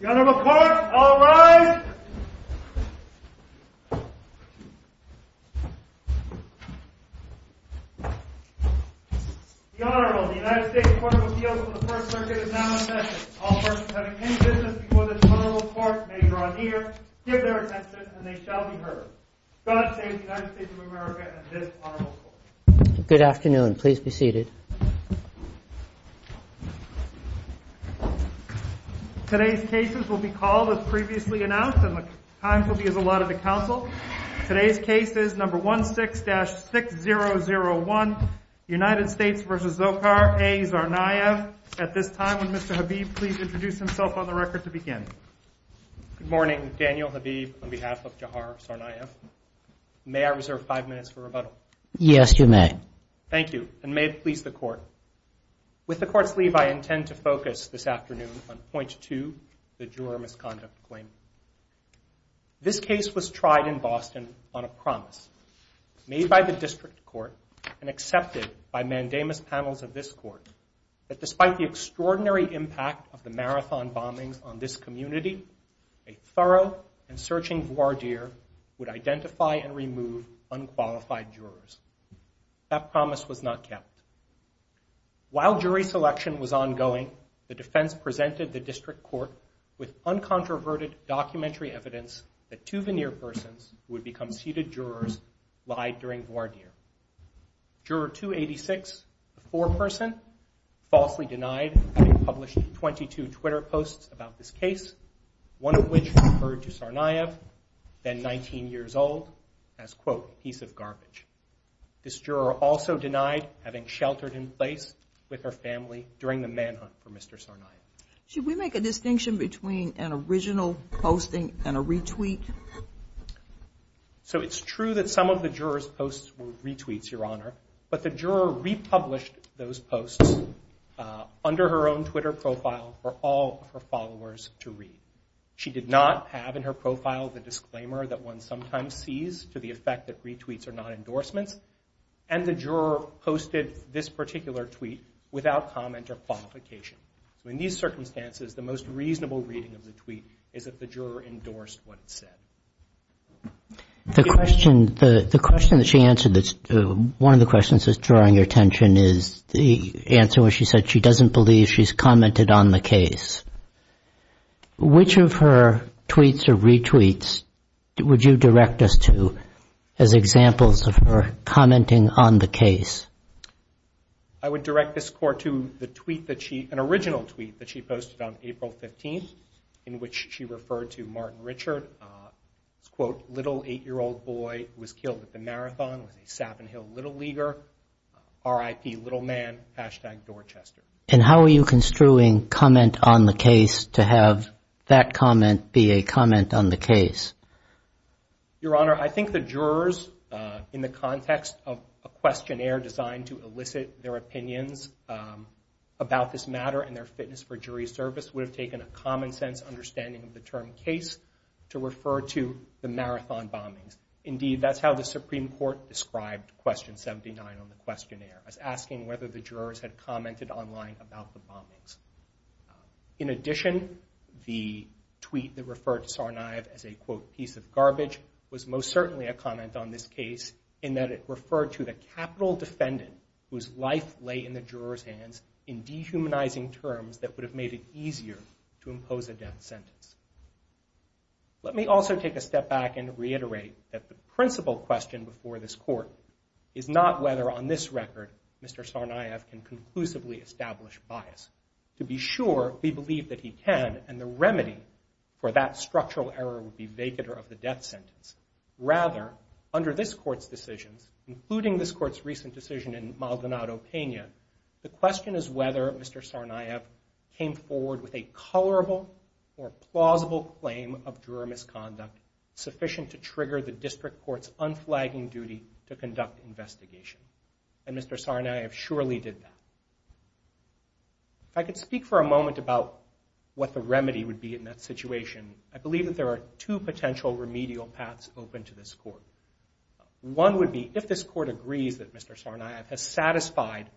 The Honorable Court, all rise! The Honorable, the United States Court of Appeals for the First Circuit is now in session. All persons having any business before this Honorable Court may draw near, give their attention, and they shall be heard. God save the United States of America and this Honorable Court. Good afternoon. Please be seated. Today's cases will be called as previously announced, and the times will be as allotted to counsel. Today's case is No. 16-6001, United States v. Zohar A. Tsarnaev. At this time, would Mr. Habib please introduce himself on the record to begin? Good morning. Daniel Habib on behalf of Zohar Tsarnaev. May I reserve five minutes for rebuttal? Yes, you may. Thank you. And may it please the Court. With the Court's leave, I intend to focus this afternoon on Point 2, the juror misconduct claim. This case was tried in Boston on a promise made by the District Court and accepted by mandamus panels of this Court that despite the extraordinary impact of the Marathon bombings on this community, a thorough and searching voir dire would identify and remove unqualified jurors. That promise was not kept. While jury selection was ongoing, the defense presented the District Court with uncontroverted documentary evidence that two veneer persons who would become seated jurors lied during voir dire. Juror 286, the foreperson, falsely denied having published 22 Twitter posts about this case, one of which referred to Tsarnaev, then 19 years old, as, quote, a piece of garbage. This juror also denied having sheltered in place with her family during the manhunt for Mr. Tsarnaev. Should we make a distinction between an original posting and a retweet? So it's true that some of the jurors' posts were retweets, Your Honor, but the juror republished those posts under her own Twitter profile for all of her followers to read. She did not have in her profile the disclaimer that one sometimes sees to the effect that retweets are not endorsements, and the juror posted this particular tweet without comment or qualification. So in these circumstances, the most reasonable reading of the tweet is that the juror endorsed what it said. The question that she answered, one of the questions that's drawing your attention, is the answer when she said she doesn't believe she's commented on the case. Which of her tweets or retweets would you direct us to as examples of her commenting on the case? I would direct this court to the tweet that she, an original tweet that she posted on April 15th, in which she referred to Martin Richard as, quote, little eight-year-old boy who was killed at the marathon with a Sappan Hill Little Leaguer, RIP little man, hashtag Dorchester. And how are you construing comment on the case to have that comment be a comment on the case? Your Honor, I think the jurors, in the context of a questionnaire designed to elicit their opinions about this matter and their fitness for jury service, would have taken a common sense understanding of the term case to refer to the marathon bombings. Indeed, that's how the Supreme Court described question 79 on the questionnaire, as asking whether the jurors had commented online about the bombings. In addition, the tweet that referred to Tsarnaev as a, quote, piece of garbage, was most certainly a comment on this case in that it referred to the capital defendant whose life lay in the jurors' hands in dehumanizing terms that would have made it easier to impose a death sentence. Let me also take a step back and reiterate that the principal question before this court is not whether, on this record, Mr. Tsarnaev can conclusively establish bias. To be sure, we believe that he can, and the remedy for that structural error would be vacatur of the death sentence. Rather, under this court's decisions, including this court's recent decision in Maldonado, Pena, the question is whether Mr. Tsarnaev came forward with a colorable or plausible claim of juror misconduct sufficient to trigger the district court's unflagging duty to conduct investigation. And Mr. Tsarnaev surely did that. If I could speak for a moment about what the remedy would be in that situation, I believe that there are two potential remedial paths open to this court. One would be, if this court agrees that Mr. Tsarnaev has satisfied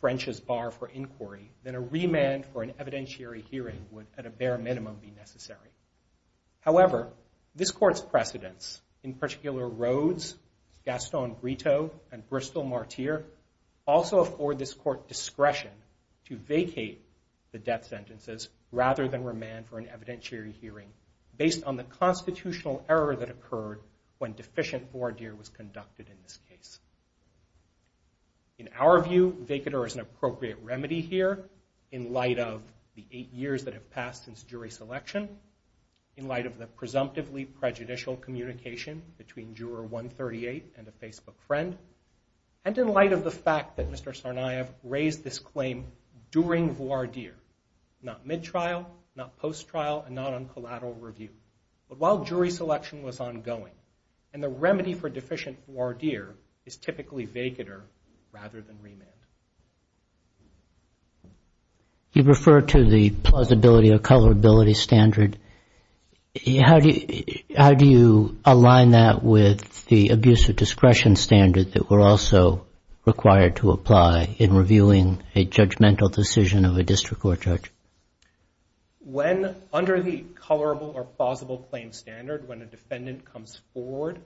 French's bar for inquiry, then a remand for an evidentiary hearing would, at a bare minimum, be necessary. However, this court's precedents, in particular Rhodes, Gaston Brito, and Bristol Martyr, also afford this court discretion to vacate the death sentences rather than remand for an evidentiary hearing based on the constitutional error that occurred when deficient ordeal was conducted in this case. In our view, vacatur is an appropriate remedy here in light of the eight years that have passed since jury selection, in light of the presumptively prejudicial communication between juror 138 and a Facebook friend, and in light of the fact that Mr. Tsarnaev raised this claim during voir dire, not mid-trial, not post-trial, and not on collateral review. But while jury selection was ongoing, and the remedy for deficient voir dire is typically vacatur rather than remand. You refer to the plausibility of colorability standard. How do you align that with the abuse of discretion standard that we're also required to apply in reviewing a judgmental decision of a district court judge? When under the colorable or plausible claim standard, when a defendant comes forward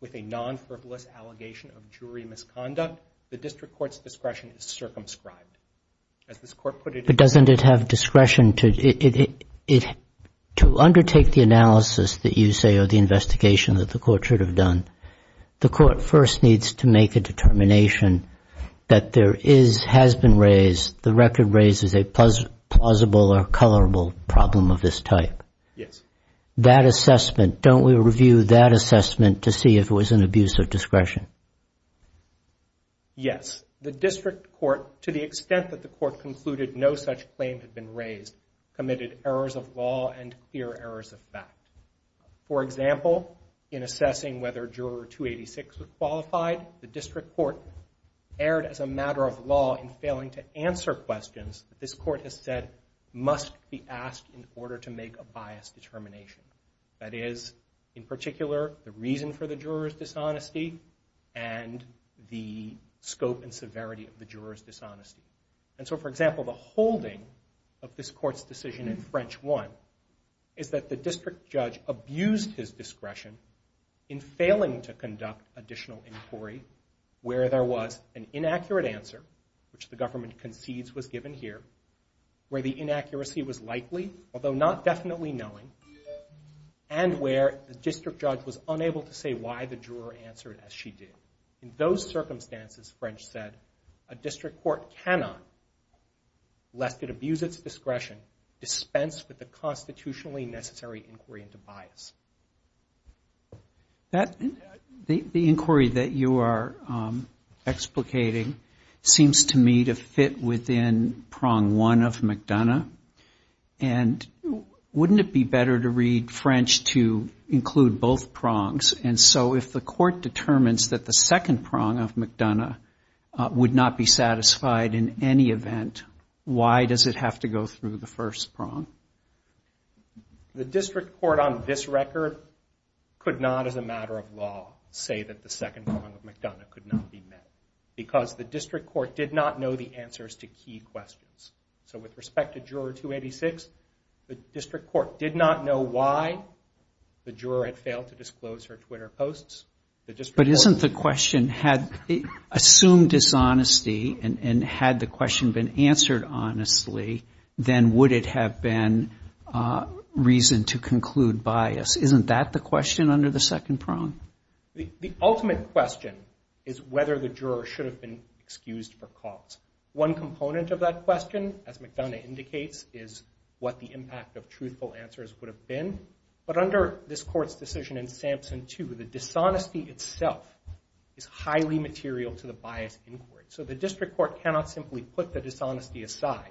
with a non-frivolous allegation of jury misconduct, the district court's discretion is circumscribed. But doesn't it have discretion to undertake the analysis that you say or the investigation that the court should have done? The court first needs to make a determination that there is, has been raised, the record raises a plausible or colorable problem of this type. Yes. That assessment, don't we review that assessment to see if it was an abuse of discretion? Yes. The district court, to the extent that the court concluded no such claim had been raised, committed errors of law and clear errors of fact. For example, in assessing whether Juror 286 was qualified, the district court erred as a matter of law in failing to answer questions that this court has said must be asked in order to make a biased determination. That is, in particular, the reason for the juror's dishonesty and the scope and severity of the juror's dishonesty. And so, for example, the holding of this court's decision in French I is that the district judge abused his discretion in failing to conduct additional inquiry where there was an inaccurate answer, which the government concedes was given here, where the inaccuracy was likely, although not definitely knowing, and where the district judge was unable to say why the juror answered as she did. In those circumstances, French said, a district court cannot, lest it abuse its discretion, dispense with the constitutionally necessary inquiry into bias. The inquiry that you are explicating seems to me to fit within prong one of McDonough, and wouldn't it be better to read French to include both prongs? And so if the court determines that the second prong of McDonough would not be satisfied in any event, why does it have to go through the first prong? The district court on this record could not, as a matter of law, say that the second prong of McDonough could not be met because the district court did not know the answers to key questions. So with respect to Juror 286, the district court did not know why the juror had failed to disclose her Twitter posts. But isn't the question, assume dishonesty, and had the question been answered honestly, then would it have been reason to conclude bias? Isn't that the question under the second prong? The ultimate question is whether the juror should have been excused for cause. One component of that question, as McDonough indicates, is what the impact of truthful answers would have been. But under this Court's decision in Sampson 2, the dishonesty itself is highly material to the bias inquiry. So the district court cannot simply put the dishonesty aside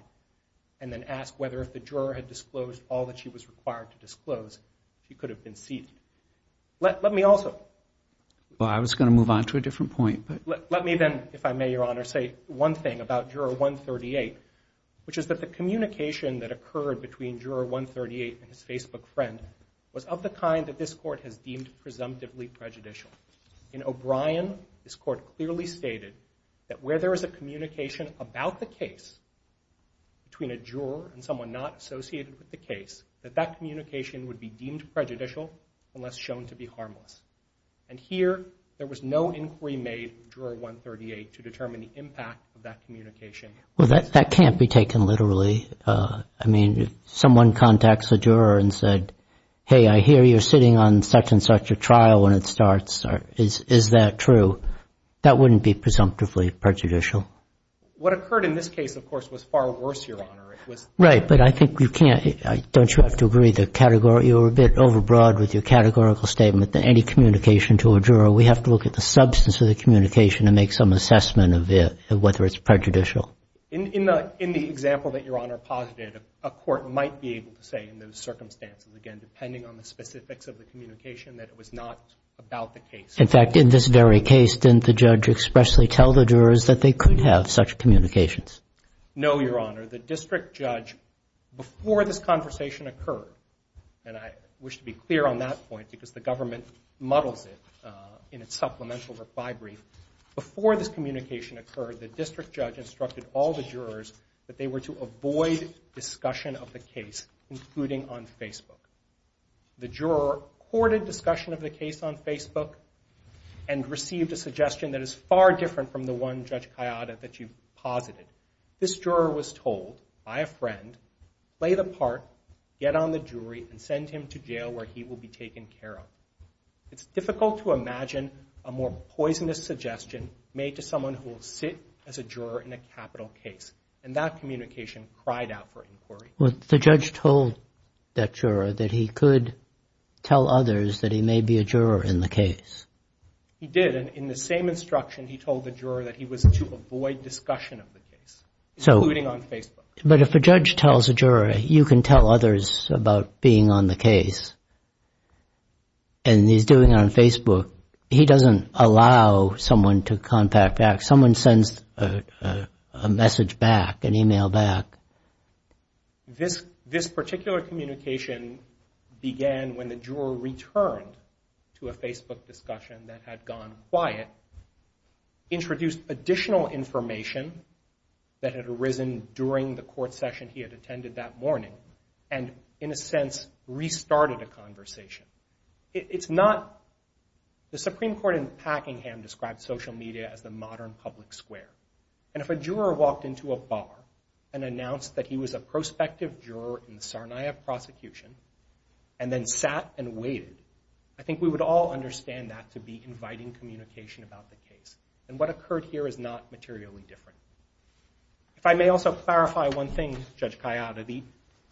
and then ask whether if the juror had disclosed all that she was required to disclose, she could have been seated. Let me also... Well, I was going to move on to a different point, but... Let me then, if I may, Your Honor, say one thing about Juror 138, which is that the communication that occurred between Juror 138 and his Facebook friend was of the kind that this Court has deemed presumptively prejudicial. In O'Brien, this Court clearly stated that where there is a communication about the case between a juror and someone not associated with the case, that that communication would be deemed prejudicial unless shown to be harmless. And here, there was no inquiry made with Juror 138 to determine the impact of that communication. Well, that can't be taken literally. I mean, if someone contacts a juror and said, Hey, I hear you're sitting on such-and-such a trial when it starts. Is that true? That wouldn't be presumptively prejudicial. What occurred in this case, of course, was far worse, Your Honor. Right, but I think you can't... Don't you have to agree that you're a bit overbroad with your categorical statement that any communication to a juror, we have to look at the substance of the communication and make some assessment of whether it's prejudicial. In the example that Your Honor posited, a court might be able to say in those circumstances, again, depending on the specifics of the communication, that it was not about the case. In fact, in this very case, didn't the judge expressly tell the jurors that they could have such communications? No, Your Honor. The district judge, before this conversation occurred, and I wish to be clear on that point because the government muddles it in its supplemental reply brief, before this communication occurred, the district judge instructed all the jurors that they were to avoid discussion of the case, including on Facebook. The juror courted discussion of the case on Facebook and received a suggestion that is far different from the one, Judge Kayada, that you posited. This juror was told by a friend, play the part, get on the jury, and send him to jail where he will be taken care of. It's difficult to imagine a more poisonous suggestion made to someone who will sit as a juror in a capital case, and that communication cried out for inquiry. Well, the judge told that juror that he could tell others that he may be a juror in the case. He did, and in the same instruction, he told the juror that he was to avoid discussion of the case, including on Facebook. But if a judge tells a juror you can tell others about being on the case and he's doing it on Facebook, he doesn't allow someone to contact back. Someone sends a message back, an email back. This particular communication began when the juror returned to a Facebook discussion that had gone quiet, introduced additional information that had arisen during the court session he had attended that morning, and, in a sense, restarted a conversation. The Supreme Court in Packingham described social media as the modern public square, and if a juror walked into a bar and announced that he was a prospective juror in the Sarnia prosecution and then sat and waited, I think we would all understand that to be inviting communication about the case, and what occurred here is not materially different. If I may also clarify one thing, Judge Kayada, the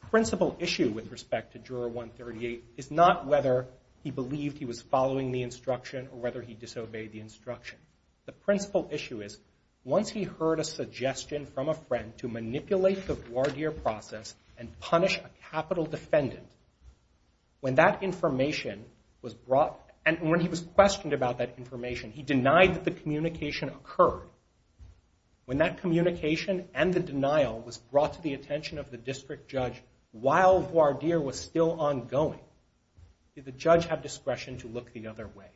principal issue with respect to Juror 138 is not whether he believed he was following the instruction or whether he disobeyed the instruction. The principal issue is once he heard a suggestion from a friend to manipulate the voir dire process and punish a capital defendant, when that information was brought, and when he was questioned about that information, he denied that the communication occurred. When that communication and the denial was brought to the attention of the district judge while voir dire was still ongoing, did the judge have discretion to look the other way?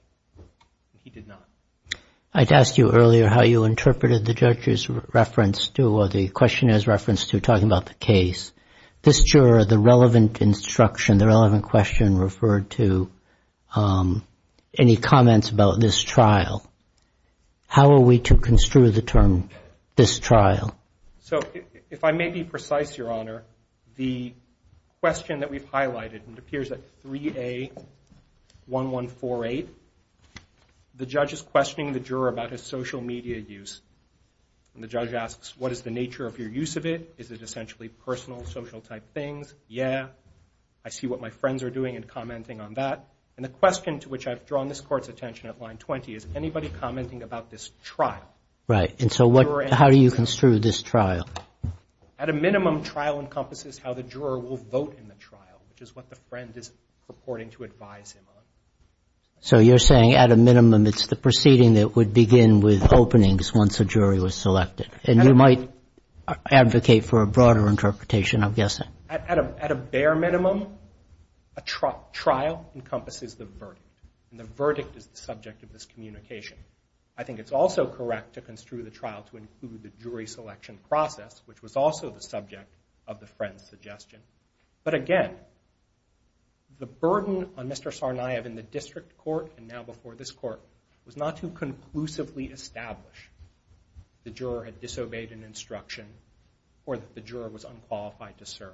He did not. I'd asked you earlier how you interpreted the judge's reference to, or the questioner's reference to, talking about the case. This juror, the relevant instruction, the relevant question, referred to any comments about this trial. How are we to construe the term, this trial? So if I may be precise, Your Honor, the question that we've highlighted, and it appears at 3A1148, the judge is questioning the juror about his social media use. And the judge asks, what is the nature of your use of it? Is it essentially personal, social-type things? Yeah, I see what my friends are doing and commenting on that. And the question to which I've drawn this Court's attention at line 20 is anybody commenting about this trial? Right, and so how do you construe this trial? At a minimum, trial encompasses how the juror will vote in the trial, which is what the friend is purporting to advise him on. So you're saying at a minimum, it's the proceeding that would begin with openings once a jury was selected. And you might advocate for a broader interpretation, I'm guessing. At a bare minimum, a trial encompasses the verdict, and the verdict is the subject of this communication. I think it's also correct to construe the trial to include the jury selection process, which was also the subject of the friend's suggestion. But again, the burden on Mr. Tsarnaev in the District Court and now before this Court was not to conclusively establish the juror had disobeyed an instruction or that the juror was unqualified to serve.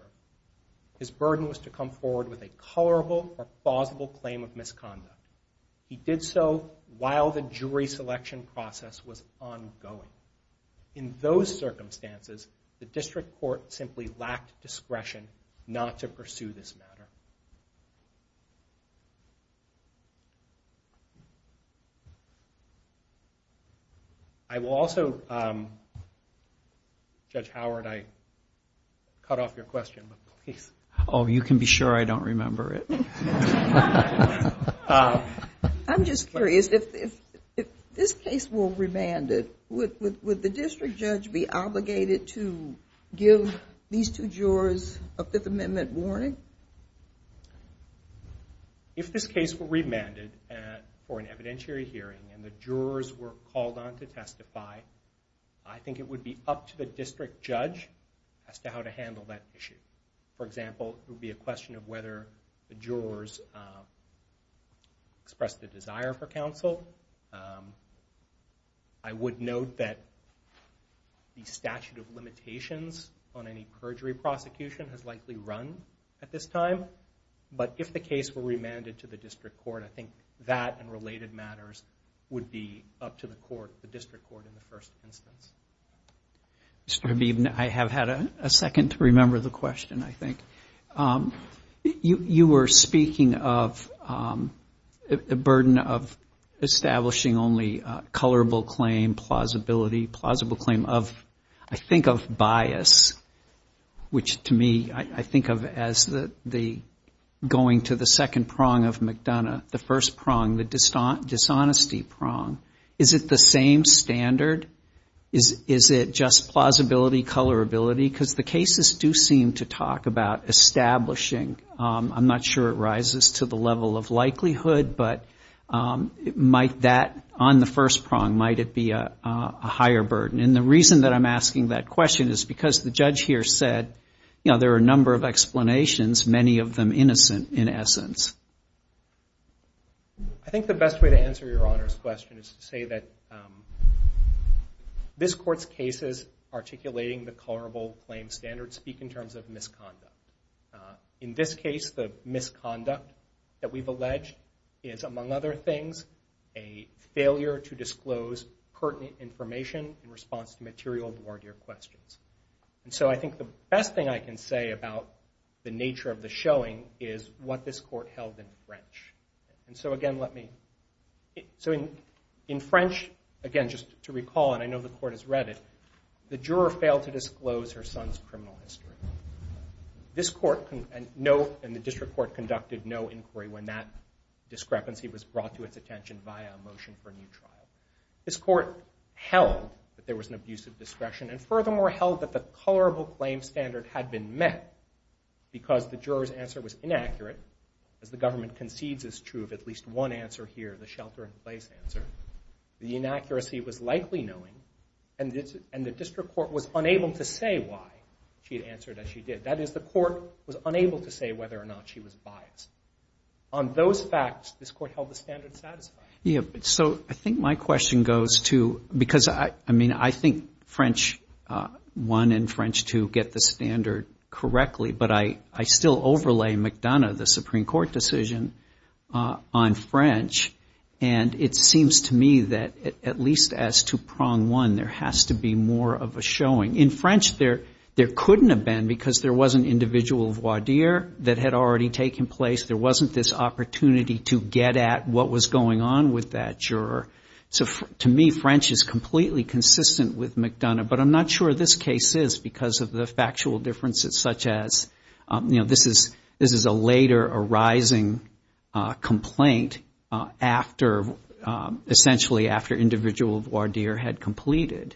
His burden was to come forward with a colorable or plausible claim of misconduct. He did so while the jury selection process was ongoing. In those circumstances, the District Court simply lacked discretion not to pursue this matter. I will also, Judge Howard, I cut off your question, but please. Oh, you can be sure I don't remember it. I'm just curious. If this case were remanded, would the district judge be obligated to give these two jurors a Fifth Amendment warning? If this case were remanded for an evidentiary hearing and the jurors were called on to testify, I think it would be up to the district judge as to how to handle that issue. For example, it would be a question of whether the jurors express the desire for counsel. I would note that the statute of limitations on any perjury prosecution has likely run at this time. But if the case were remanded to the District Court, I think that and related matters would be up to the court, the District Court in the first instance. Mr. Habib, I have had a second to remember the question, I think. You were speaking of a burden of establishing only colorable claim, plausibility, plausible claim of, I think of bias, which to me I think of as the going to the second prong of McDonough, the first prong, the dishonesty prong. Is it the same standard? Is it just plausibility, colorability? Because the cases do seem to talk about establishing. I'm not sure it rises to the level of likelihood, but might that on the first prong, might it be a higher burden? And the reason that I'm asking that question is because the judge here said there are a number of explanations, many of them innocent in essence. I think the best way to answer Your Honor's question is to say that this Court's cases articulating the colorable claim standard speak in terms of misconduct. In this case, the misconduct that we've alleged is, among other things, a failure to disclose pertinent information in response to material toward your questions. And so I think the best thing I can say about the nature of the showing is what this Court held in French. And so again, let me... So in French, again, just to recall, and I know the Court has read it, the juror failed to disclose her son's criminal history. This Court and the District Court conducted no inquiry when that discrepancy was brought to its attention via a motion for a new trial. This Court held that there was an abuse of discretion, and furthermore held that the colorable claim standard had been met because the juror's answer was inaccurate, as the government concedes is true of at least one answer here, the shelter-in-place answer. The inaccuracy was likely knowing, and the District Court was unable to say why she had answered as she did. That is, the Court was unable to say whether or not she was biased. On those facts, this Court held the standard satisfied. Yeah, so I think my question goes to... Because, I mean, I think French I and French II get the standard correctly, but I still overlay McDonough, the Supreme Court decision on French, and it seems to me that at least as to prong one, there has to be more of a showing. In French, there couldn't have been because there was an individual voir dire that had already taken place. There wasn't this opportunity to get at what was going on with that juror. To me, French is completely consistent with McDonough, but I'm not sure this case is because of the factual differences, such as this is a later arising complaint essentially after an individual voir dire had completed,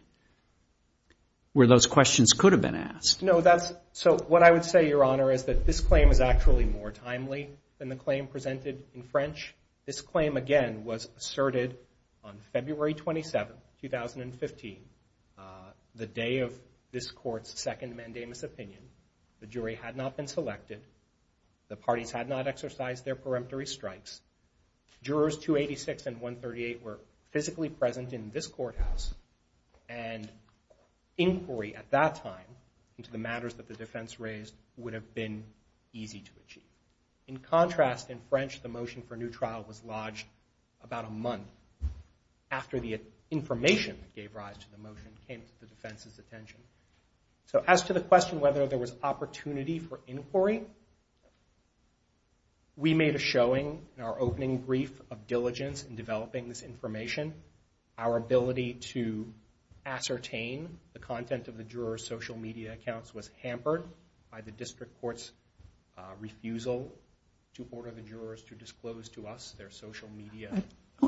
where those questions could have been asked. No, so what I would say, Your Honor, is that this claim is actually more timely than the claim presented in French. This claim, again, was asserted on February 27, 2015, the day of this Court's second mandamus opinion. The jury had not been selected. The parties had not exercised their peremptory strikes. Jurors 286 and 138 were physically present in this courthouse, and inquiry at that time into the matters that the defense raised would have been easy to achieve. In contrast, in French, the motion for new trial was lodged about a month after the information that gave rise to the motion came to the defense's attention. So as to the question whether there was opportunity for inquiry, we made a showing in our opening brief of diligence in developing this information. Our ability to ascertain the content of the juror's social media accounts was hampered by the district court's refusal to order the jurors to disclose to us their social media.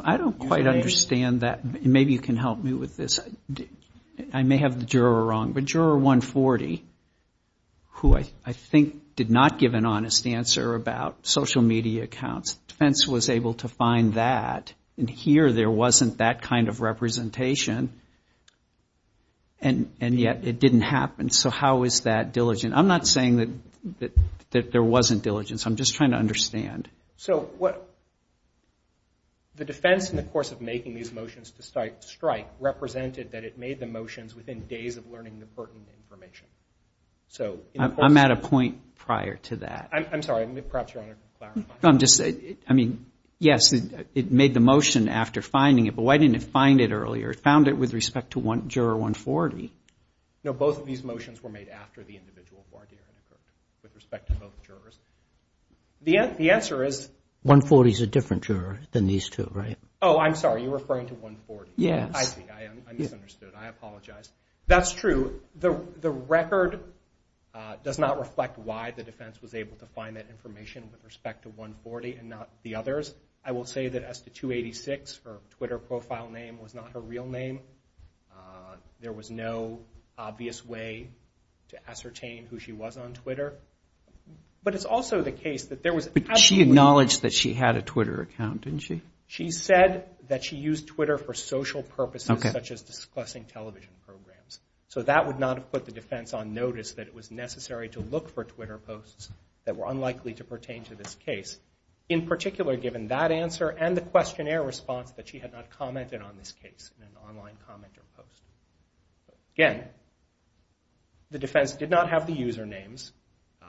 I don't quite understand that. Maybe you can help me with this. I may have the juror wrong, but Juror 140, who I think did not give an honest answer about social media accounts, the defense was able to find that, and here there wasn't that kind of representation, and yet it didn't happen. So how is that diligent? I'm not saying that there wasn't diligence. I'm just trying to understand. So the defense in the course of making these motions to strike represented that it made the motions within days of learning the pertinent information. I'm at a point prior to that. I'm sorry. Perhaps you want to clarify. Yes, it made the motion after finding it, but why didn't it find it earlier? It found it with respect to Juror 140. No, both of these motions were made after the individual bargaining occurred with respect to both jurors. The answer is 140 is a different juror than these two, right? Oh, I'm sorry. You're referring to 140. Yes. I see. I misunderstood. I apologize. That's true. The record does not reflect why the defense was able to find that information with respect to 140 and not the others. I will say that as to 286, her Twitter profile name, was not her real name. There was no obvious way to ascertain who she was on Twitter. But it's also the case that there was absolutely... But she acknowledged that she had a Twitter account, didn't she? She said that she used Twitter for social purposes, such as discussing television programs. So that would not have put the defense on notice that it was necessary to look for Twitter posts that were unlikely to pertain to this case. In particular, given that answer and the questionnaire response that she had not commented on this case in an online comment or post. Again, the defense did not have the usernames.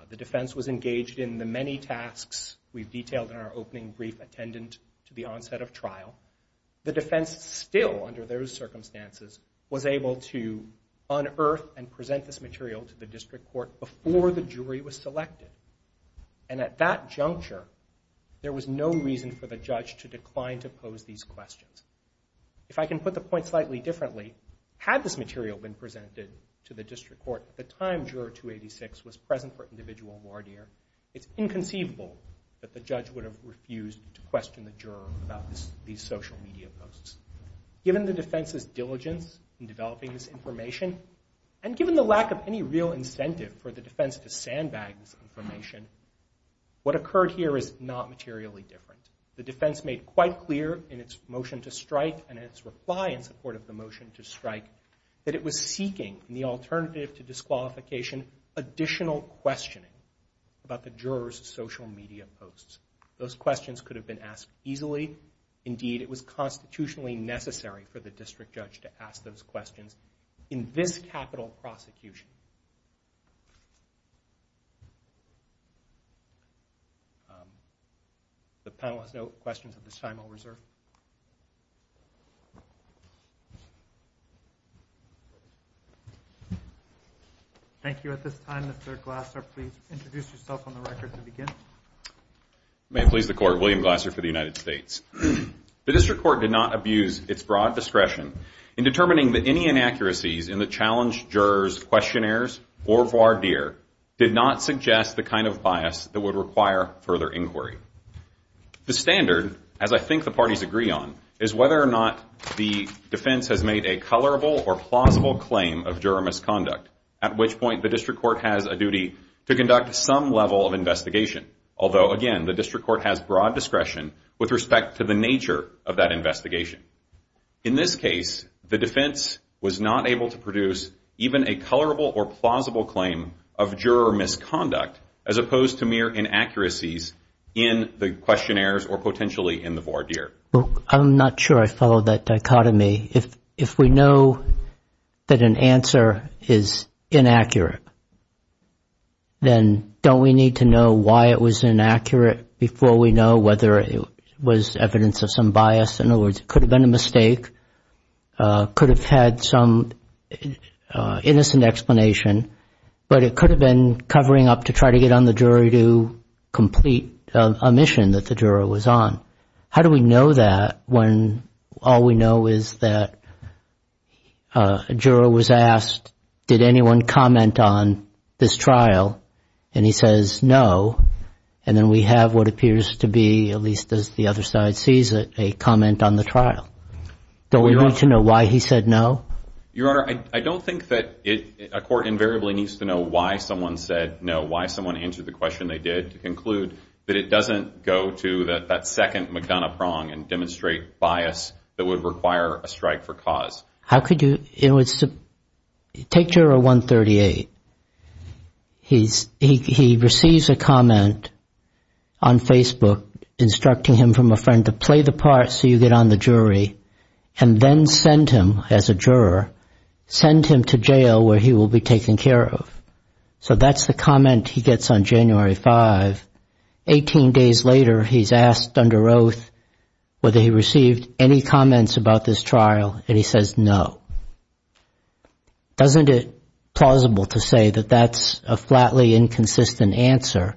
The defense was engaged in the many tasks we've detailed in our opening brief attendant to the onset of trial. The defense still, under those circumstances, was able to unearth and present this material to the district court before the jury was selected. And at that juncture, there was no reason for the judge to decline to pose these questions. If I can put the point slightly differently, had this material been presented to the district court at the time Juror 286 was present for individual voir dire, it's inconceivable that the judge would have refused to question the juror about these social media posts. Given the defense's diligence in developing this information, and given the lack of any real incentive for the defense to sandbag this information, what occurred here is not materially different. The defense made quite clear in its motion to strike and its reply in support of the motion to strike that it was seeking, in the alternative to disqualification, additional questioning about the juror's social media posts. Those questions could have been asked easily. Indeed, it was constitutionally necessary for the district judge to ask those questions in this capital prosecution. If the panel has no questions at this time, I'll reserve. Thank you. At this time, Mr. Glasser, please introduce yourself on the record to begin. May it please the Court, William Glasser for the United States. The district court did not abuse its broad discretion in the challenged juror's question and reply did not suggest the kind of bias that would require further inquiry. The standard, as I think the parties agree on, is whether or not the defense has made a colorable or plausible claim of juror misconduct, at which point the district court has a duty to conduct some level of investigation, although, again, the district court has broad discretion with respect to the nature of that investigation. In this case, the defense was not able to produce even a colorable or plausible claim of juror misconduct as opposed to mere inaccuracies in the questionnaires or potentially in the voir dire. I'm not sure I follow that dichotomy. If we know that an answer is inaccurate, then don't we need to know why it was inaccurate before we know whether it was evidence of some bias? In other words, it could have been a mistake, could have had some innocent explanation, but it could have been covering up to try to get on the jury to complete a mission that the juror was on. How do we know that when all we know is that a juror was asked, did anyone comment on this trial, and he says no, and then we have what appears to be, at least as the other side sees it, a comment on the trial? Don't we need to know why he said no? Your Honor, I don't think that a court invariably needs to know why someone said no, why someone answered the question they did to conclude that it doesn't go to that second McDonough prong and demonstrate bias that would require a strike for cause. How could you? Take juror 138. He receives a comment on Facebook instructing him from a friend to play the part so you get on the jury and then send him, as a juror, send him to jail where he will be taken care of. So that's the comment he gets on January 5. Eighteen days later, he's asked under oath whether he received any comments about this trial, and he says no. Doesn't it plausible to say that that's a flatly inconsistent answer,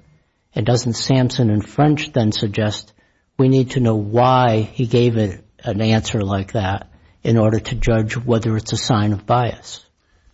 and doesn't Sampson and French then suggest we need to know why he gave an answer like that in order to judge whether it's a sign of bias?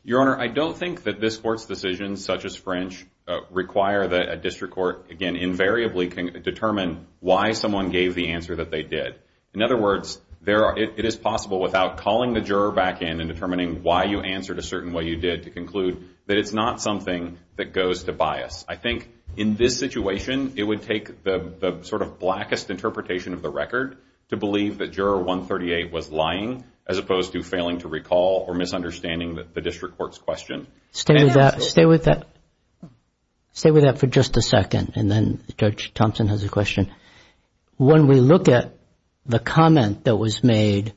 Your Honor, I don't think that this Court's decisions, such as French, require that a district court, again, invariably can determine why someone gave the answer that they did. In other words, it is possible without calling the juror back in and determining why you answered a certain way you did to conclude that it's not something that goes to bias. I think in this situation, it would take the sort of blackest interpretation of the record to believe that juror 138 was lying as opposed to failing to recall or misunderstanding the district court's question. Stay with that for just a second, and then Judge Thompson has a question. When we look at the comment that was made,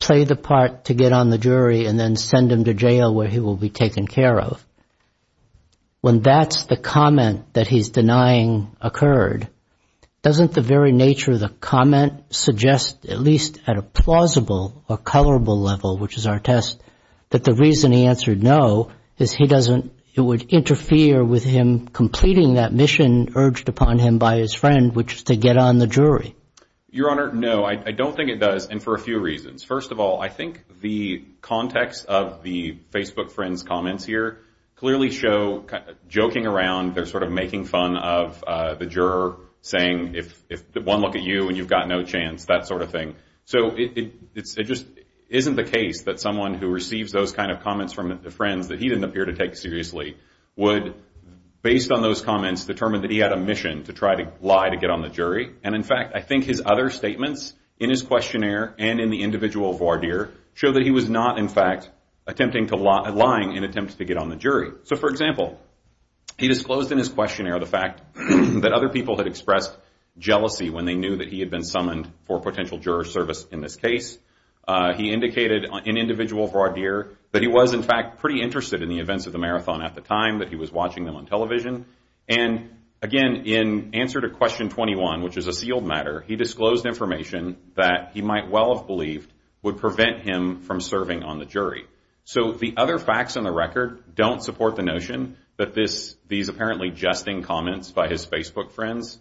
play the part to get on the jury and then send him to jail where he will be taken care of, when that's the comment that he's denying occurred, doesn't the very nature of the comment suggest, at least at a plausible or colorable level, which is our test, that the reason he answered no is it would interfere with him to get on the jury? Your Honor, no. I don't think it does, and for a few reasons. First of all, I think the context of the Facebook friend's comments here clearly show joking around. They're sort of making fun of the juror, saying if one look at you and you've got no chance, that sort of thing. So it just isn't the case that someone who receives those kind of comments from the friends that he didn't appear to take seriously would, based on those comments, determine that he had a mission to try to lie to get on the jury. In fact, I think his other statements in his questionnaire and in the individual voir dire show that he was not, in fact, lying in attempts to get on the jury. For example, he disclosed in his questionnaire the fact that other people had expressed jealousy when they knew that he had been summoned for potential juror service in this case. He indicated in individual voir dire that he was, in fact, pretty interested in the events of the marathon at the time, that he was watching them on television. And again, in answer to question 21, which is a sealed matter, he disclosed information that he might well have believed would prevent him from serving on the jury. So the other facts on the record don't support the notion that these apparently jesting comments by his Facebook friends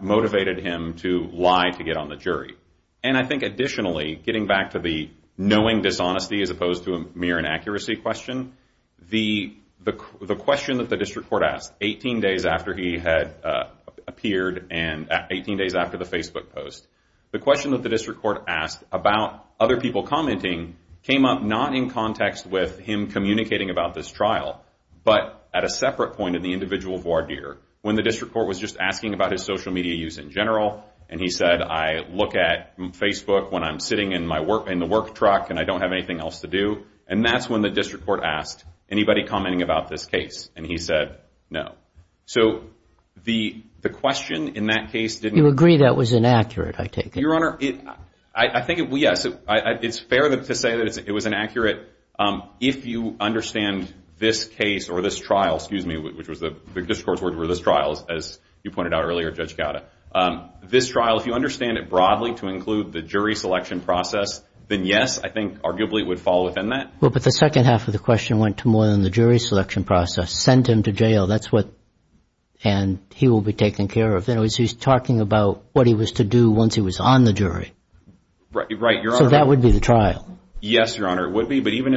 motivated him to lie to get on the jury. And I think additionally, getting back to the knowing dishonesty as opposed to a mere inaccuracy question, the question that the district court asked 18 days after he had appeared and 18 days after the Facebook post, the question that the district court asked about other people commenting came up not in context with him communicating about this trial but at a separate point in the individual voir dire when the district court was just asking about his social media use in general and he said, I look at Facebook when I'm sitting in the work truck and I don't have anything else to do. And that's when the district court asked, anybody commenting about this case? And he said, no. So the question in that case didn't... You agree that was inaccurate, I take it. Your Honor, I think, yes, it's fair to say that it was inaccurate. If you understand this case or this trial, excuse me, which was the district court's word for this trial, as you pointed out earlier, Judge Gowda, this trial, if you understand it broadly to include the jury selection process, then yes, I think arguably it would fall within that. Well, but the second half of the question went to more than the jury selection process. Sent him to jail, that's what, and he will be taken care of. In other words, he's talking about what he was to do once he was on the jury. Right, Your Honor. So that would be the trial. Yes, Your Honor, it would be. But even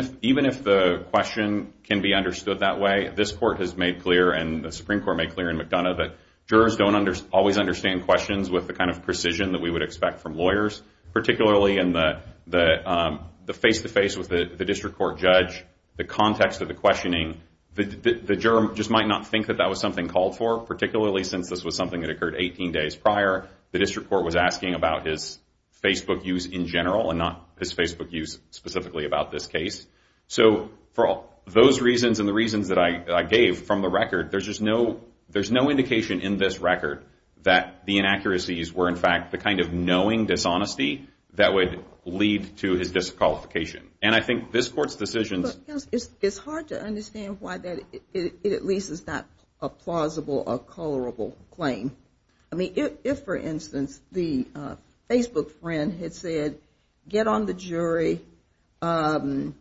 if the question can be understood that way, this court has made clear and the Supreme Court made clear in McDonough that jurors don't always understand questions with the kind of precision that we would expect from lawyers, particularly in the face-to-face with the district court judge, the context of the questioning. The juror just might not think that that was something called for, particularly since this was something that occurred 18 days prior. The district court was asking about his Facebook use in general and not his Facebook use specifically about this case. So for those reasons and the reasons that I gave from the record, there's just no indication in this record that the inaccuracies were, in fact, the kind of knowing dishonesty that would lead to his disqualification. And I think this court's decisions... It's hard to understand why that at least is not a plausible or colorable claim. I mean, if, for instance, the Facebook friend had said, get on the jury and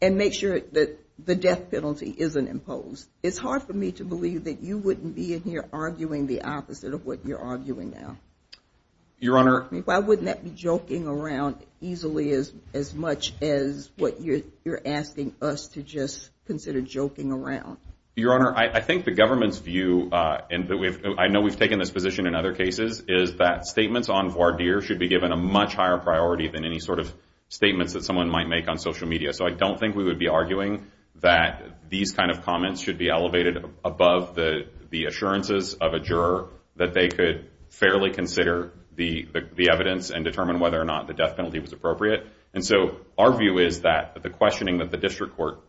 make sure that the death penalty isn't imposed, it's hard for me to believe that you wouldn't be in here instead of what you're arguing now. Why wouldn't that be joking around easily as much as what you're asking us to just consider joking around? Your Honor, I think the government's view, and I know we've taken this position in other cases, is that statements on voir dire should be given a much higher priority than any sort of statements that someone might make on social media. So I don't think we would be arguing that these kind of comments should be elevated above the assurances of a juror that they could fairly consider the evidence and determine whether or not the death penalty was appropriate. And so our view is that the questioning that the district court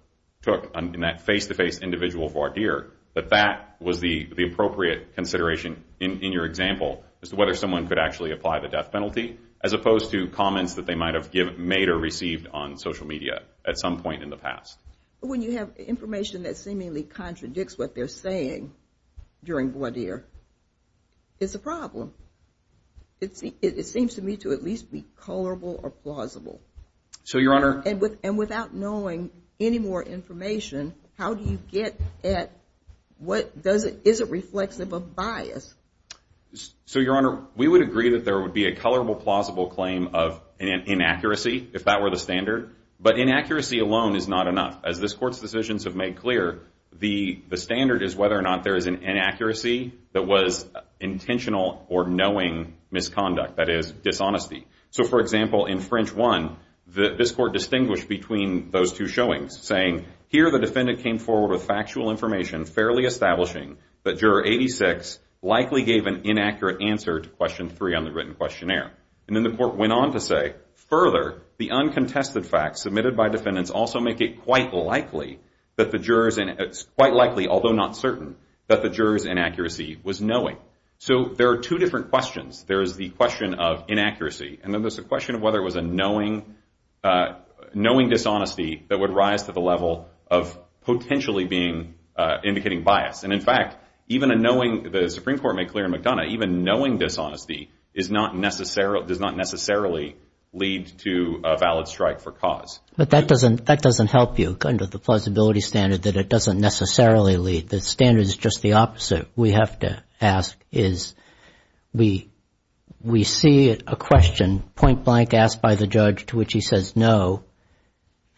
took in that face-to-face individual voir dire, that that was the appropriate consideration in your example as to whether someone could actually apply the death penalty as opposed to comments that they might have made or received on social media at some point in the past. When you have information that seemingly contradicts what they're saying during voir dire, it's a problem. It seems to me to at least be colorable or plausible. So, Your Honor... And without knowing any more information, how do you get at what doesn't... is it reflexive of bias? So, Your Honor, we would agree that there would be a colorable, plausible claim of inaccuracy, if that were the standard. But inaccuracy alone is not enough. As this Court's decisions have made clear, the standard is whether or not there is an inaccuracy that was intentional or knowing misconduct, that is, dishonesty. So, for example, in French 1, this Court distinguished between those two showings, saying, here the defendant came forward with factual information fairly establishing that juror 86 likely gave an inaccurate answer to question 3 on the written questionnaire. And then the Court went on to say, further, the uncontested facts submitted by defendants also make it quite likely that the jurors... It's quite likely, although not certain, that the jurors' inaccuracy was knowing. So, there are two different questions. There is the question of inaccuracy, and then there's the question of whether it was a knowing dishonesty that would rise to the level of potentially being... indicating bias. And, in fact, even a knowing... The Supreme Court made clear in McDonough, even knowing dishonesty is not necessarily... does not necessarily lead to a valid strike for cause. But that doesn't help you, under the plausibility standard, that it doesn't necessarily lead. The standard is just the opposite. We have to ask, is... We see a question point-blank asked by the judge to which he says no.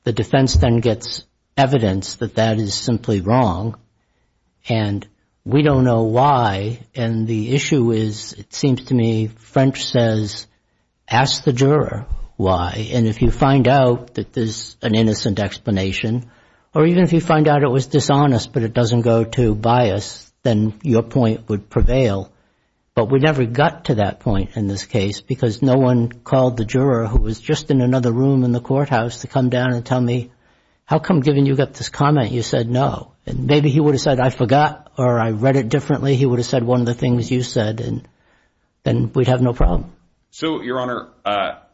The defense then gets evidence that that is simply wrong. And we don't know why. And the issue is, it seems to me, French says, ask the juror why. And if you find out that there's an innocent explanation, or even if you find out it was dishonest but it doesn't go to bias, then your point would prevail. But we never got to that point in this case because no one called the juror, who was just in another room in the courthouse, to come down and tell me, how come, given you got this comment, you said no? Maybe he would have said, I forgot, or I read it differently. He would have said one of the things you said, and we'd have no problem. So, Your Honor,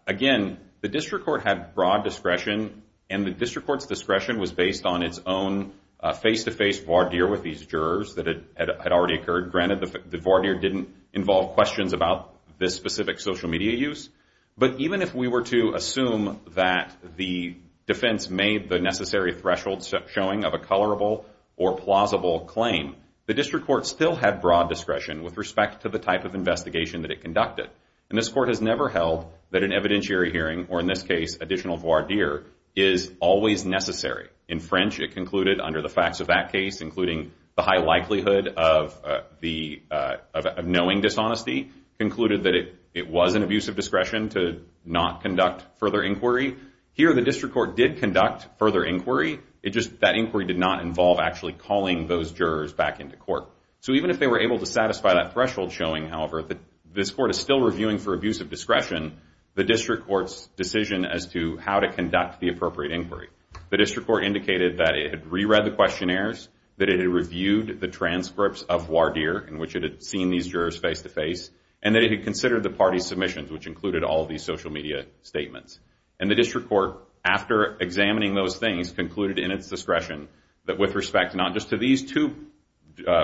again, the district court had broad discretion, and the district court's discretion was based on its own face-to-face voir dire with these jurors that had already occurred. Granted, the voir dire didn't involve questions about this specific social media use. But even if we were to assume that the defense made the necessary threshold showing of a colorable or plausible claim, the district court still had broad discretion with respect to the type of investigation that it conducted. And this court has never held that an evidentiary hearing, or in this case, additional voir dire, is always necessary. In French, it concluded, under the facts of that case, including the high likelihood of knowing dishonesty, concluded that it was an abuse of discretion to not conduct further inquiry. Here, the district court did conduct further inquiry. It just, that inquiry did not involve actually calling those jurors back into court. So even if they were able to satisfy that threshold showing, however, that this court is still reviewing for abuse of discretion, the district court's decision as to how to conduct the appropriate inquiry. The district court indicated that it had re-read the questionnaires, that it had reviewed the transcripts of voir dire, in which it had seen these jurors face-to-face, and that it had considered the party submissions, which included all of these social media statements. And the district court, after examining those things, concluded in its discretion that with respect not just to these two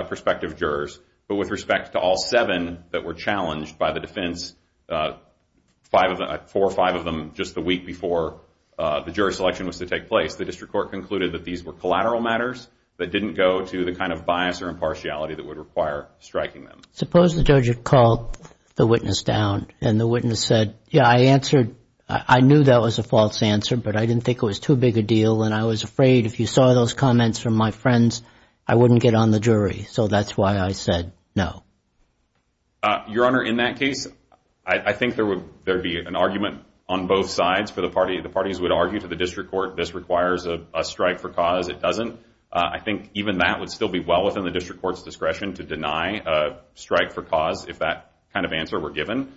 prospective jurors, but with respect to all seven that were challenged by the defense, four or five of them just the week before the jury selection was to take place, the district court concluded that these were collateral matters that didn't go to the kind of bias or impartiality that would require striking them. Suppose the judge had called the witness down, and the witness said, yeah, I answered. I knew that was a false answer, but I didn't think it was too big a deal, and I was afraid if you saw those comments from my friends, I wouldn't get on the jury. So that's why I said no. Your Honor, in that case, I think there would be an argument on both sides. The parties would argue to the district court this requires a strike for cause. It doesn't. I think even that would still be well within the district court's discretion to deny a strike for cause if that kind of answer were given.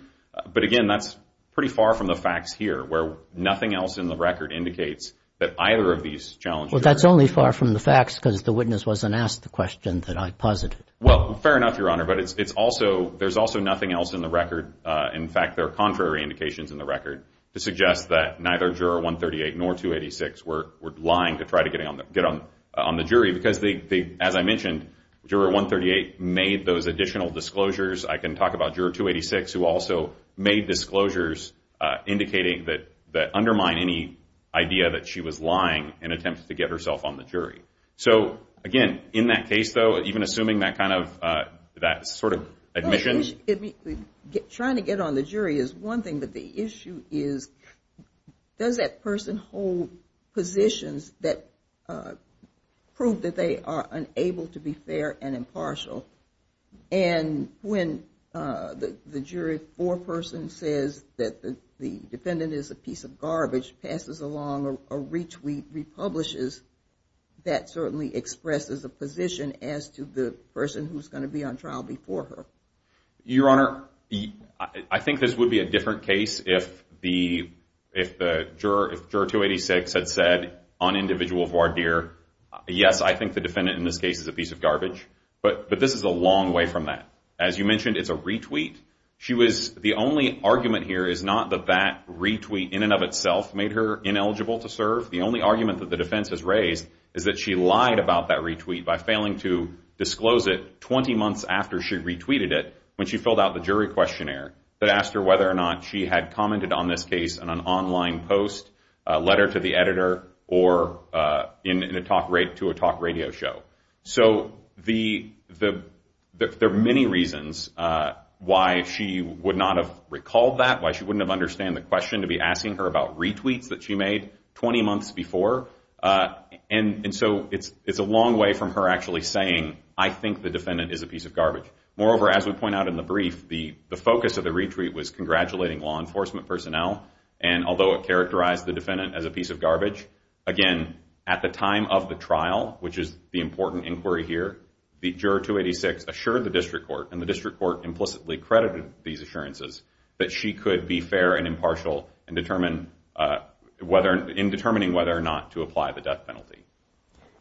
But, again, that's pretty far from the facts here, where nothing else in the record indicates that either of these challenged jurors. Well, that's only far from the facts because the witness wasn't asked the question that I posited. Well, fair enough, Your Honor, but there's also nothing else in the record. In fact, there are contrary indications in the record to suggest that neither juror 138 nor 286 were lying to try to get on the jury because, as I mentioned, juror 138 made those additional disclosures. I can talk about juror 286 who also made disclosures indicating that undermine any idea that she was lying in an attempt to get herself on the jury. So, again, in that case, though, even assuming that kind of sort of admission. Trying to get on the jury is one thing, but the issue is does that person hold positions that prove that they are unable to be fair and impartial? And when the jury foreperson says that the defendant is a piece of garbage, passes along a retweet, republishes, that certainly expresses a position as to the person who's going to be on trial before her. Your Honor, I think this would be a different case if the juror 286 had said, on individual voir dire, yes, I think the defendant in this case is a piece of garbage, but this is a long way from that. As you mentioned, it's a retweet. The only argument here is not that that retweet in and of itself made her ineligible to serve. The only argument that the defense has raised is that she lied about that retweet by failing to disclose it 20 months after she retweeted it when she filled out the jury questionnaire that asked her whether or not she had commented on this case in an online post, a letter to the editor, or to a talk radio show. So there are many reasons why she would not have recalled that, why she wouldn't have understood the question to be asking her about retweets that she made 20 months before. And so it's a long way from her actually saying, I think the defendant is a piece of garbage. Moreover, as we point out in the brief, the focus of the retweet was congratulating law enforcement personnel, and although it characterized the defendant as a piece of garbage, again, at the time of the trial, which is the important inquiry here, the juror 286 assured the district court, and the district court implicitly credited these assurances, that she could be fair and impartial in determining whether or not to apply the death penalty.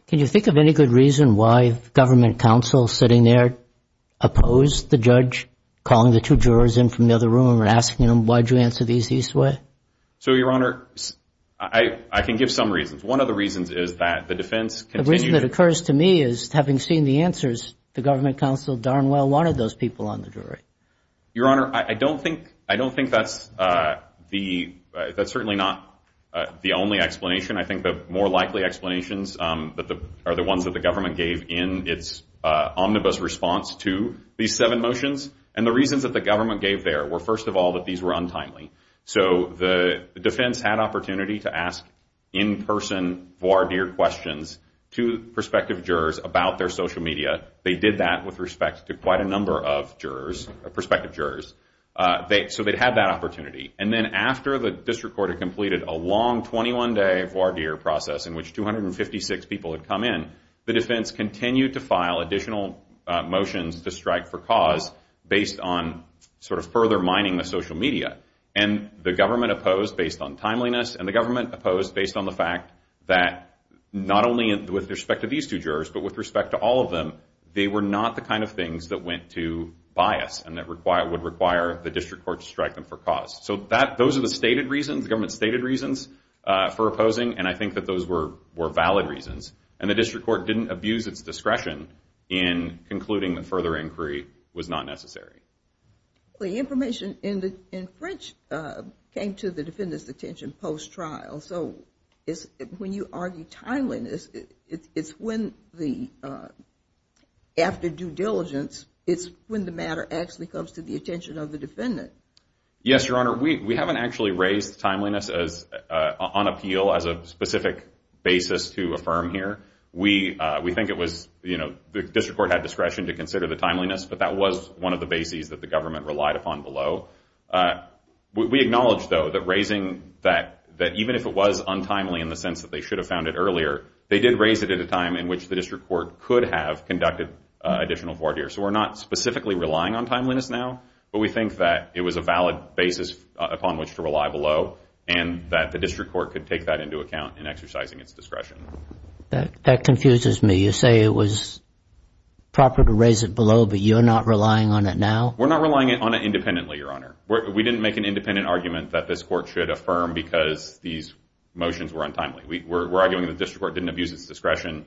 Can you think of any good reason why the government counsel sitting there opposed the judge calling the two jurors in from the other room and asking them, why did you answer these this way? So, Your Honor, I can give some reasons. One of the reasons is that the defense continued to... The reason that occurs to me is, having seen the answers, the government counsel darn well wanted those people on the jury. Your Honor, I don't think that's certainly not the only explanation. I think the more likely explanations are the ones that the government gave in its omnibus response to these seven motions. And the reasons that the government gave there were, first of all, that these were untimely. So the defense had opportunity to ask in-person voir dire questions to prospective jurors about their social media. They did that with respect to quite a number of jurors, prospective jurors. So they had that opportunity. And then after the district court had completed a long 21-day voir dire process in which 256 people had come in, the defense continued to file additional motions to strike for cause based on sort of further mining the social media. And the government opposed based on timeliness, and the government opposed based on the fact that not only with respect to these two jurors, but with respect to all of them, they were not the kind of things that went to bias and would require the district court to strike them for cause. So those are the stated reasons, the government's stated reasons for opposing, and I think that those were valid reasons. And the district court didn't abuse its discretion in concluding that further inquiry was not necessary. The information in French came to the defendant's attention post-trial. So when you argue timeliness, it's when after due diligence, it's when the matter actually comes to the attention of the defendant. Yes, Your Honor, we haven't actually raised timeliness on appeal as a specific basis to affirm here. We think it was, you know, the district court had discretion to consider the timeliness, but that was one of the bases that the government relied upon below. We acknowledge, though, that raising that, that even if it was untimely in the sense that they should have found it earlier, they did raise it at a time in which the district court could have conducted additional voir dire. So we're not specifically relying on timeliness now, but we think that it was a valid basis upon which to rely below and that the district court could take that into account in exercising its discretion. That confuses me. You say it was proper to raise it below, but you're not relying on it now? We're not relying on it independently, Your Honor. We didn't make an independent argument that this court should affirm because these motions were untimely. We're arguing the district court didn't abuse its discretion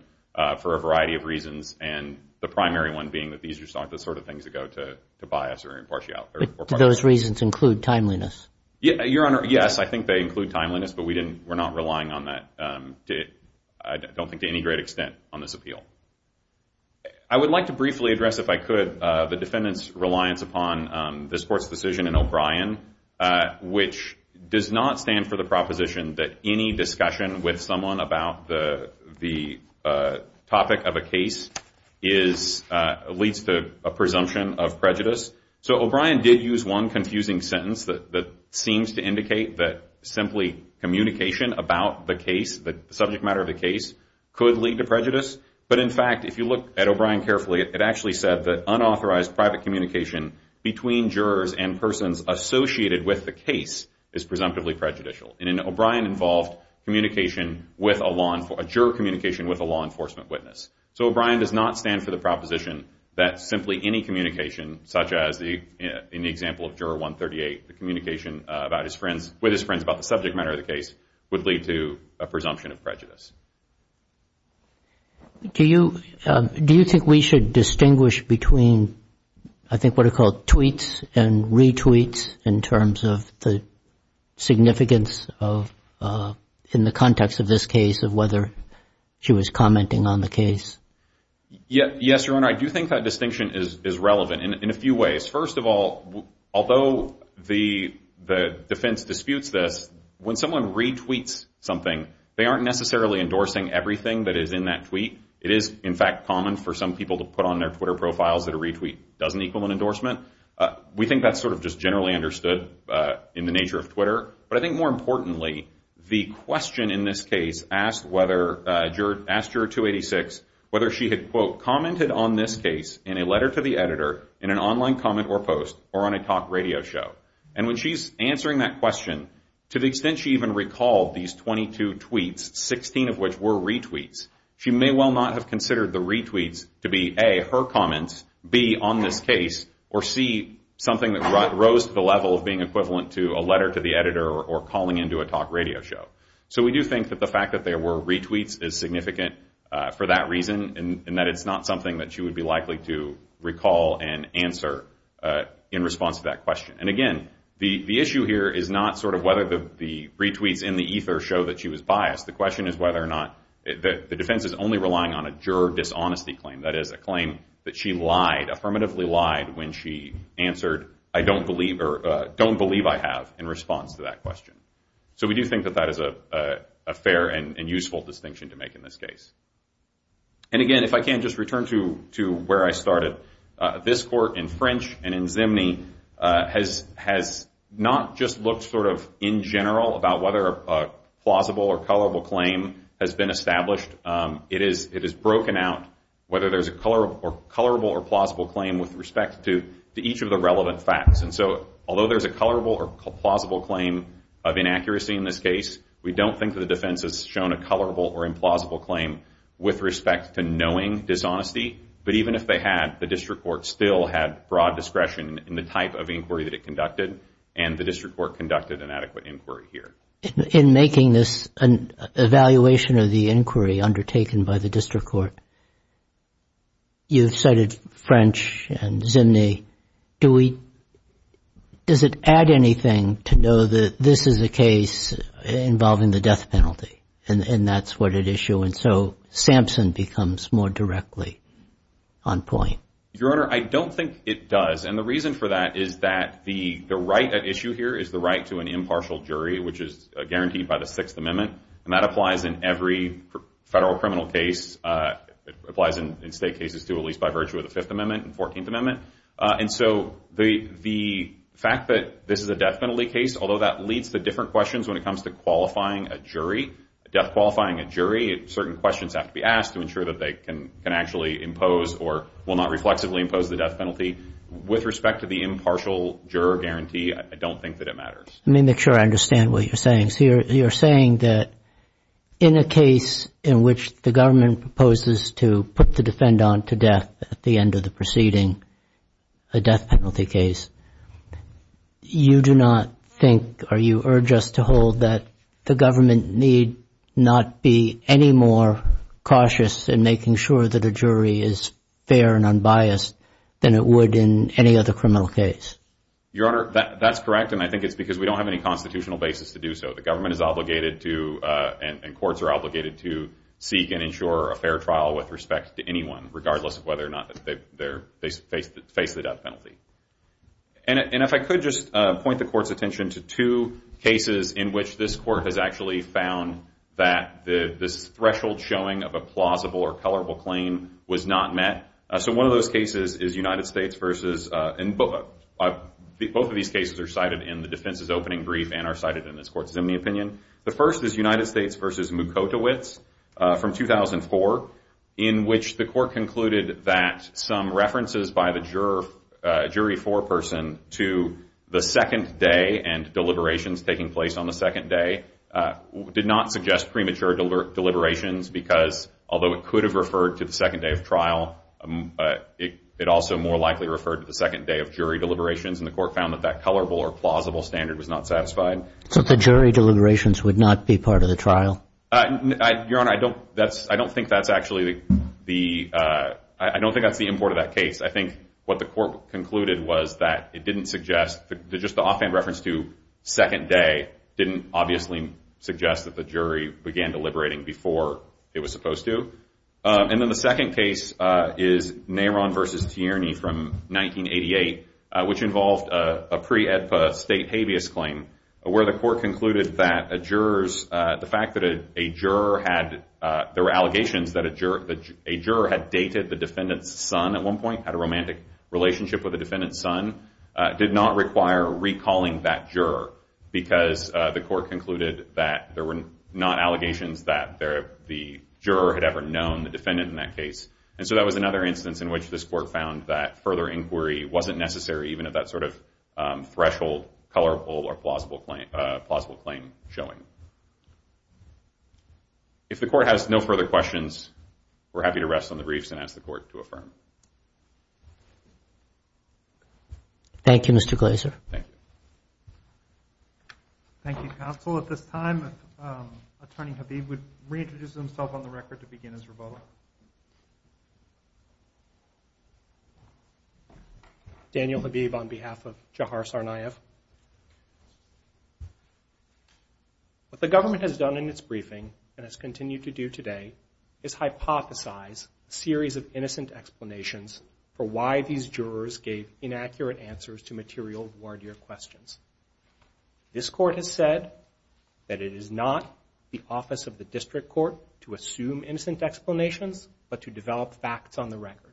for a variety of reasons, and the primary one being that these are the sort of things that go to bias or impartiality. But do those reasons include timeliness? Your Honor, yes, I think they include timeliness, but we're not relying on that. I don't think to any great extent on this appeal. I would like to briefly address, if I could, the defendant's reliance upon this court's decision in O'Brien, which does not stand for the proposition that any discussion with someone about the topic of a case leads to a presumption of prejudice. So O'Brien did use one confusing sentence that seems to indicate that simply communication about the case, the subject matter of the case, could lead to prejudice. But, in fact, if you look at O'Brien carefully, it actually said that unauthorized private communication between jurors and persons associated with the case is presumptively prejudicial. And O'Brien involved communication with a law enforcement, a juror communication with a law enforcement witness. So O'Brien does not stand for the proposition that simply any communication, such as in the example of Juror 138, the communication with his friends about the subject matter of the case would lead to a presumption of prejudice. Do you think we should distinguish between, I think, what are called tweets and retweets in terms of the significance of, in the context of this case, of whether she was commenting on the case? Yes, Your Honor, I do think that distinction is relevant in a few ways. First of all, although the defense disputes this, when someone retweets something, they aren't necessarily endorsing everything that is in that tweet. It is, in fact, common for some people to put on their Twitter profiles that a retweet doesn't equal an endorsement. We think that's sort of just generally understood in the nature of Twitter. But I think, more importantly, the question in this case asked whether, asked Juror 286, whether she had, quote, commented on this case in a letter to the editor, in an online comment or post, or on a talk radio show. And when she's answering that question, to the extent she even recalled these 22 tweets, 16 of which were retweets, she may well not have considered the retweets to be, A, her comments, B, on this case, or C, something that rose to the level of being equivalent to a letter to the editor or calling into a talk radio show. So we do think that the fact that there were retweets is significant for that reason and that it's not something that she would be likely to recall and answer in response to that question. And again, the issue here is not sort of whether the retweets in the ether show that she was biased. The question is whether or not the defense is only relying on a juror dishonesty claim, that is, a claim that she lied, affirmatively lied, when she answered, I don't believe, or don't believe I have, in response to that question. So we do think that that is a fair and useful distinction to make in this case. And again, if I can just return to where I started, that this court in French and in Zimny has not just looked sort of in general about whether a plausible or colorable claim has been established. It has broken out whether there's a colorable or plausible claim with respect to each of the relevant facts. And so although there's a colorable or plausible claim of inaccuracy in this case, we don't think that the defense has shown a colorable or implausible claim with respect to knowing dishonesty. But even if they had, the district court still had broad discretion in the type of inquiry that it conducted, and the district court conducted an adequate inquiry here. In making this evaluation of the inquiry undertaken by the district court, you've cited French and Zimny. Does it add anything to know that this is a case involving the death penalty, and that's what at issue, and so Sampson becomes more directly on point? Your Honor, I don't think it does. And the reason for that is that the right at issue here is the right to an impartial jury, which is guaranteed by the Sixth Amendment. And that applies in every federal criminal case. It applies in state cases too, at least by virtue of the Fifth Amendment and Fourteenth Amendment. And so the fact that this is a death penalty case, although that leads to different questions when it comes to qualifying a jury, death qualifying a jury, certain questions have to be asked to ensure that they can actually impose or will not reflexively impose the death penalty. With respect to the impartial juror guarantee, I don't think that it matters. Let me make sure I understand what you're saying. So you're saying that in a case in which the government proposes to put the defendant on to death at the end of the proceeding, a death penalty case, you do not think or you urge us to hold that the government need not be any more cautious in making sure that a jury is fair and unbiased than it would in any other criminal case? Your Honor, that's correct, and I think it's because we don't have any constitutional basis to do so. The government is obligated to, and courts are obligated to, seek and ensure a fair trial with respect to anyone, regardless of whether or not they face the death penalty. And if I could just point the Court's attention to two cases in which this Court has actually found that this threshold showing of a plausible or colorable claim was not met. So one of those cases is United States v. Both of these cases are cited in the defense's opening brief and are cited in this Court's Zimney opinion. The first is United States v. Mukotowicz from 2004, in which the Court concluded that some references by the jury foreperson to the second day and deliberations taking place on the second day did not suggest premature deliberations because although it could have referred to the second day of trial, it also more likely referred to the second day of jury deliberations, and the Court found that that colorable or plausible standard was not satisfied. So the jury deliberations would not be part of the trial? Your Honor, I don't think that's actually the import of that case. I think what the Court concluded was that it didn't suggest, just the offhand reference to second day didn't obviously suggest that the jury began deliberating before it was supposed to. And then the second case is Neyron v. Tierney from 1988, which involved a pre-AEDPA state habeas claim where the Court concluded that a juror's, the fact that a juror had, there were allegations that a juror had dated the defendant's son at one point, had a romantic relationship with the defendant's son, did not require recalling that juror because the Court concluded that there were not allegations that the juror had ever known the defendant in that case. And so that was another instance in which this Court found that further inquiry wasn't necessary, even at that sort of threshold, colorable or plausible claim showing. If the Court has no further questions, we're happy to rest on the briefs and ask the Court to affirm. Thank you, Mr. Glazer. Thank you. Thank you, counsel. At this time, Attorney Habib would reintroduce himself on the record to begin his rebuttal. Daniel Habib on behalf of Jahar Sarnaev. What the government has done in its briefing and has continued to do today is hypothesize a series of innocent explanations for why these jurors gave inaccurate answers to material voir dire questions. This Court has said that it is not the office of the District Court to assume innocent explanations, but to develop facts on the record.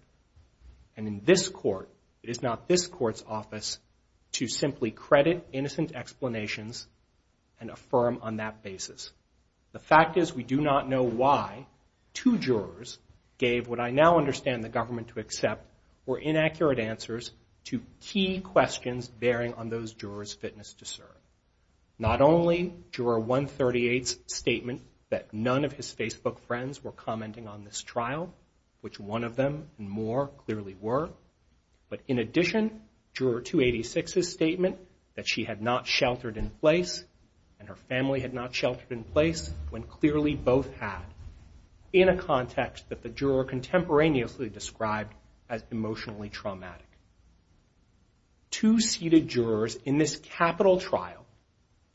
And in this Court, it is not this Court's office to simply credit innocent explanations and affirm on that basis. The fact is we do not know why two jurors gave what I now understand the government to accept were inaccurate answers to key questions bearing on those jurors' fitness to serve. Not only Juror 138's statement that none of his Facebook friends were commenting on this trial, which one of them and more clearly were, but in addition, Juror 286's statement that she had not sheltered in place and her family had not sheltered in place, when clearly both had, in a context that the juror contemporaneously described as emotionally traumatic. Two seated jurors in this capital trial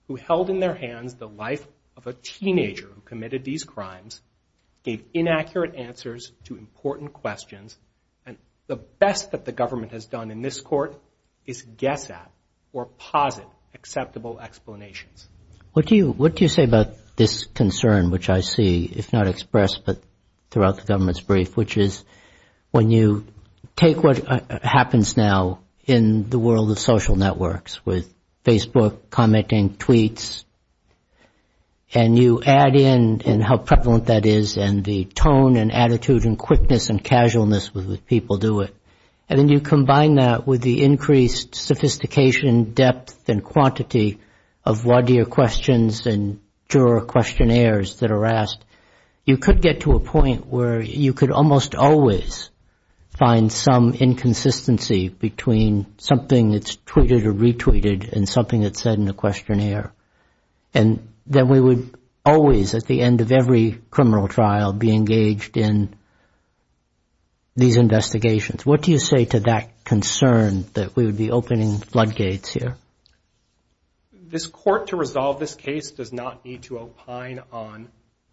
who held in their hands the life of a teenager who committed these crimes gave inaccurate answers to important questions. And the best that the government has done in this Court is guess at or posit acceptable explanations. What do you say about this concern, which I see, if not expressed, but throughout the government's brief, which is when you take what happens now in the world of social networks with Facebook commenting, tweets, and you add in how prevalent that is and the tone and attitude and quickness and casualness with which people do it, and then you combine that with the increased sophistication, depth, and quantity of what your questions and juror questionnaires that are asked, you could get to a point where you could almost always find some inconsistency between something that's tweeted or retweeted and something that's said in the questionnaire. And then we would always, at the end of every criminal trial, be engaged in these investigations. What do you say to that concern that we would be opening floodgates here? This Court, to resolve this case, does not need to opine on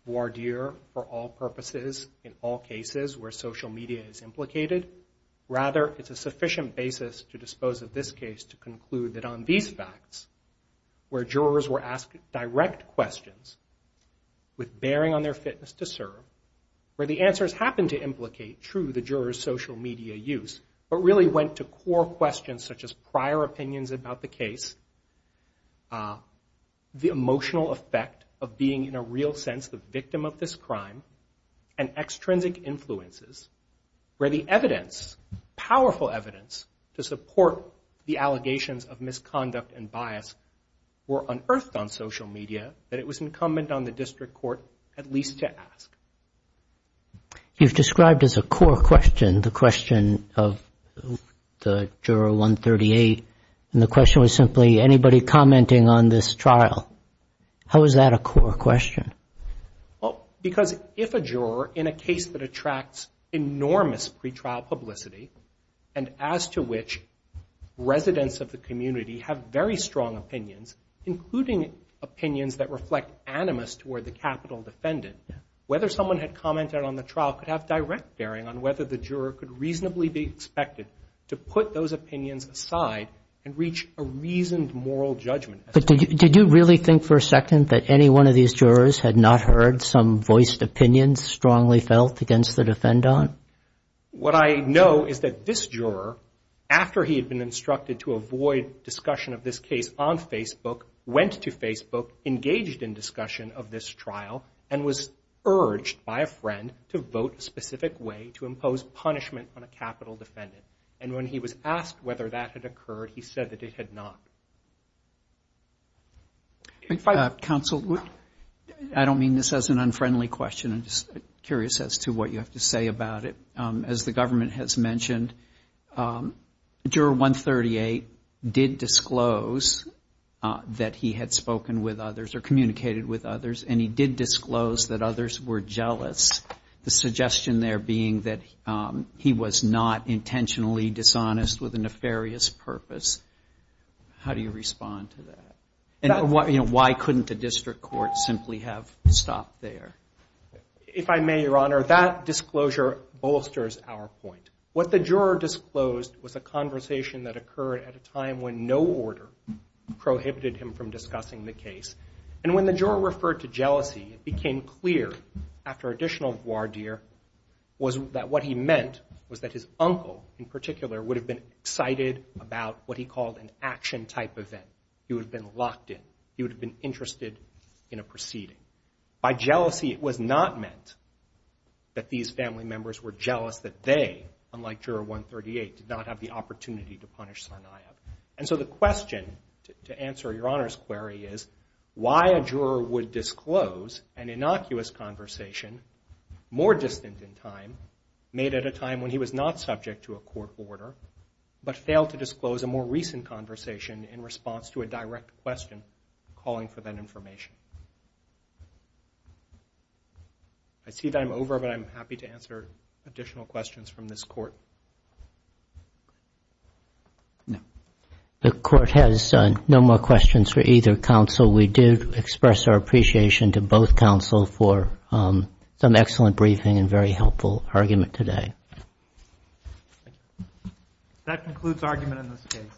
voir dire for all purposes, in all cases where social media is implicated. Rather, it's a sufficient basis to dispose of this case to conclude that on these facts, where jurors were asked direct questions with bearing on their fitness to serve, where the answers happened to implicate, true, the juror's social media use, but really went to core questions such as prior opinions about the case, the emotional effect of being, in a real sense, the victim of this crime, and extrinsic influences, where the evidence, powerful evidence, to support the allegations of misconduct and bias were unearthed on social media that it was incumbent on the District Court at least to ask. You've described as a core question the question of the juror 138, and the question was simply anybody commenting on this trial. How is that a core question? Because if a juror, in a case that attracts enormous pretrial publicity, and as to which residents of the community have very strong opinions, including opinions that reflect animus toward the capital defendant, whether someone had commented on the trial could have direct bearing on whether the juror could reasonably be expected to put those opinions aside and reach a reasoned moral judgment. But did you really think for a second that any one of these jurors had not heard some voiced opinion strongly felt against the defendant? What I know is that this juror, after he had been instructed to avoid discussion of this case on Facebook, went to Facebook, engaged in discussion of this trial, and was urged by a friend to vote a specific way to impose punishment on a capital defendant. And when he was asked whether that had occurred, he said that it had not. Counsel, I don't mean this as an unfriendly question. I'm just curious as to what you have to say about it. As the government has mentioned, Juror 138 did disclose that he had spoken with others or communicated with others, and he did disclose that others were jealous, the suggestion there being that he was not intentionally dishonest with a nefarious purpose. How do you respond to that? And why couldn't the district court simply have stopped there? If I may, Your Honor, that disclosure bolsters our point. What the juror disclosed was a conversation that occurred at a time when no order prohibited him from discussing the case. And when the juror referred to jealousy, it became clear, after additional voir dire, was that what he meant was that his uncle, in particular, would have been excited about what he called an action-type event. He would have been locked in. He would have been interested in a proceeding. By jealousy, it was not meant that these family members were jealous that they, unlike Juror 138, did not have the opportunity to punish Tsarnaev. And so the question, to answer Your Honor's query, is why a juror would disclose an innocuous conversation more distant in time, made at a time when he was not subject to a court order, but failed to disclose a more recent conversation in response to a direct question calling for that information. I see that I'm over, but I'm happy to answer additional questions from this Court. No. The Court has no more questions for either counsel. We do express our appreciation to both counsel for some excellent briefing and very helpful argument today. That concludes argument in this case.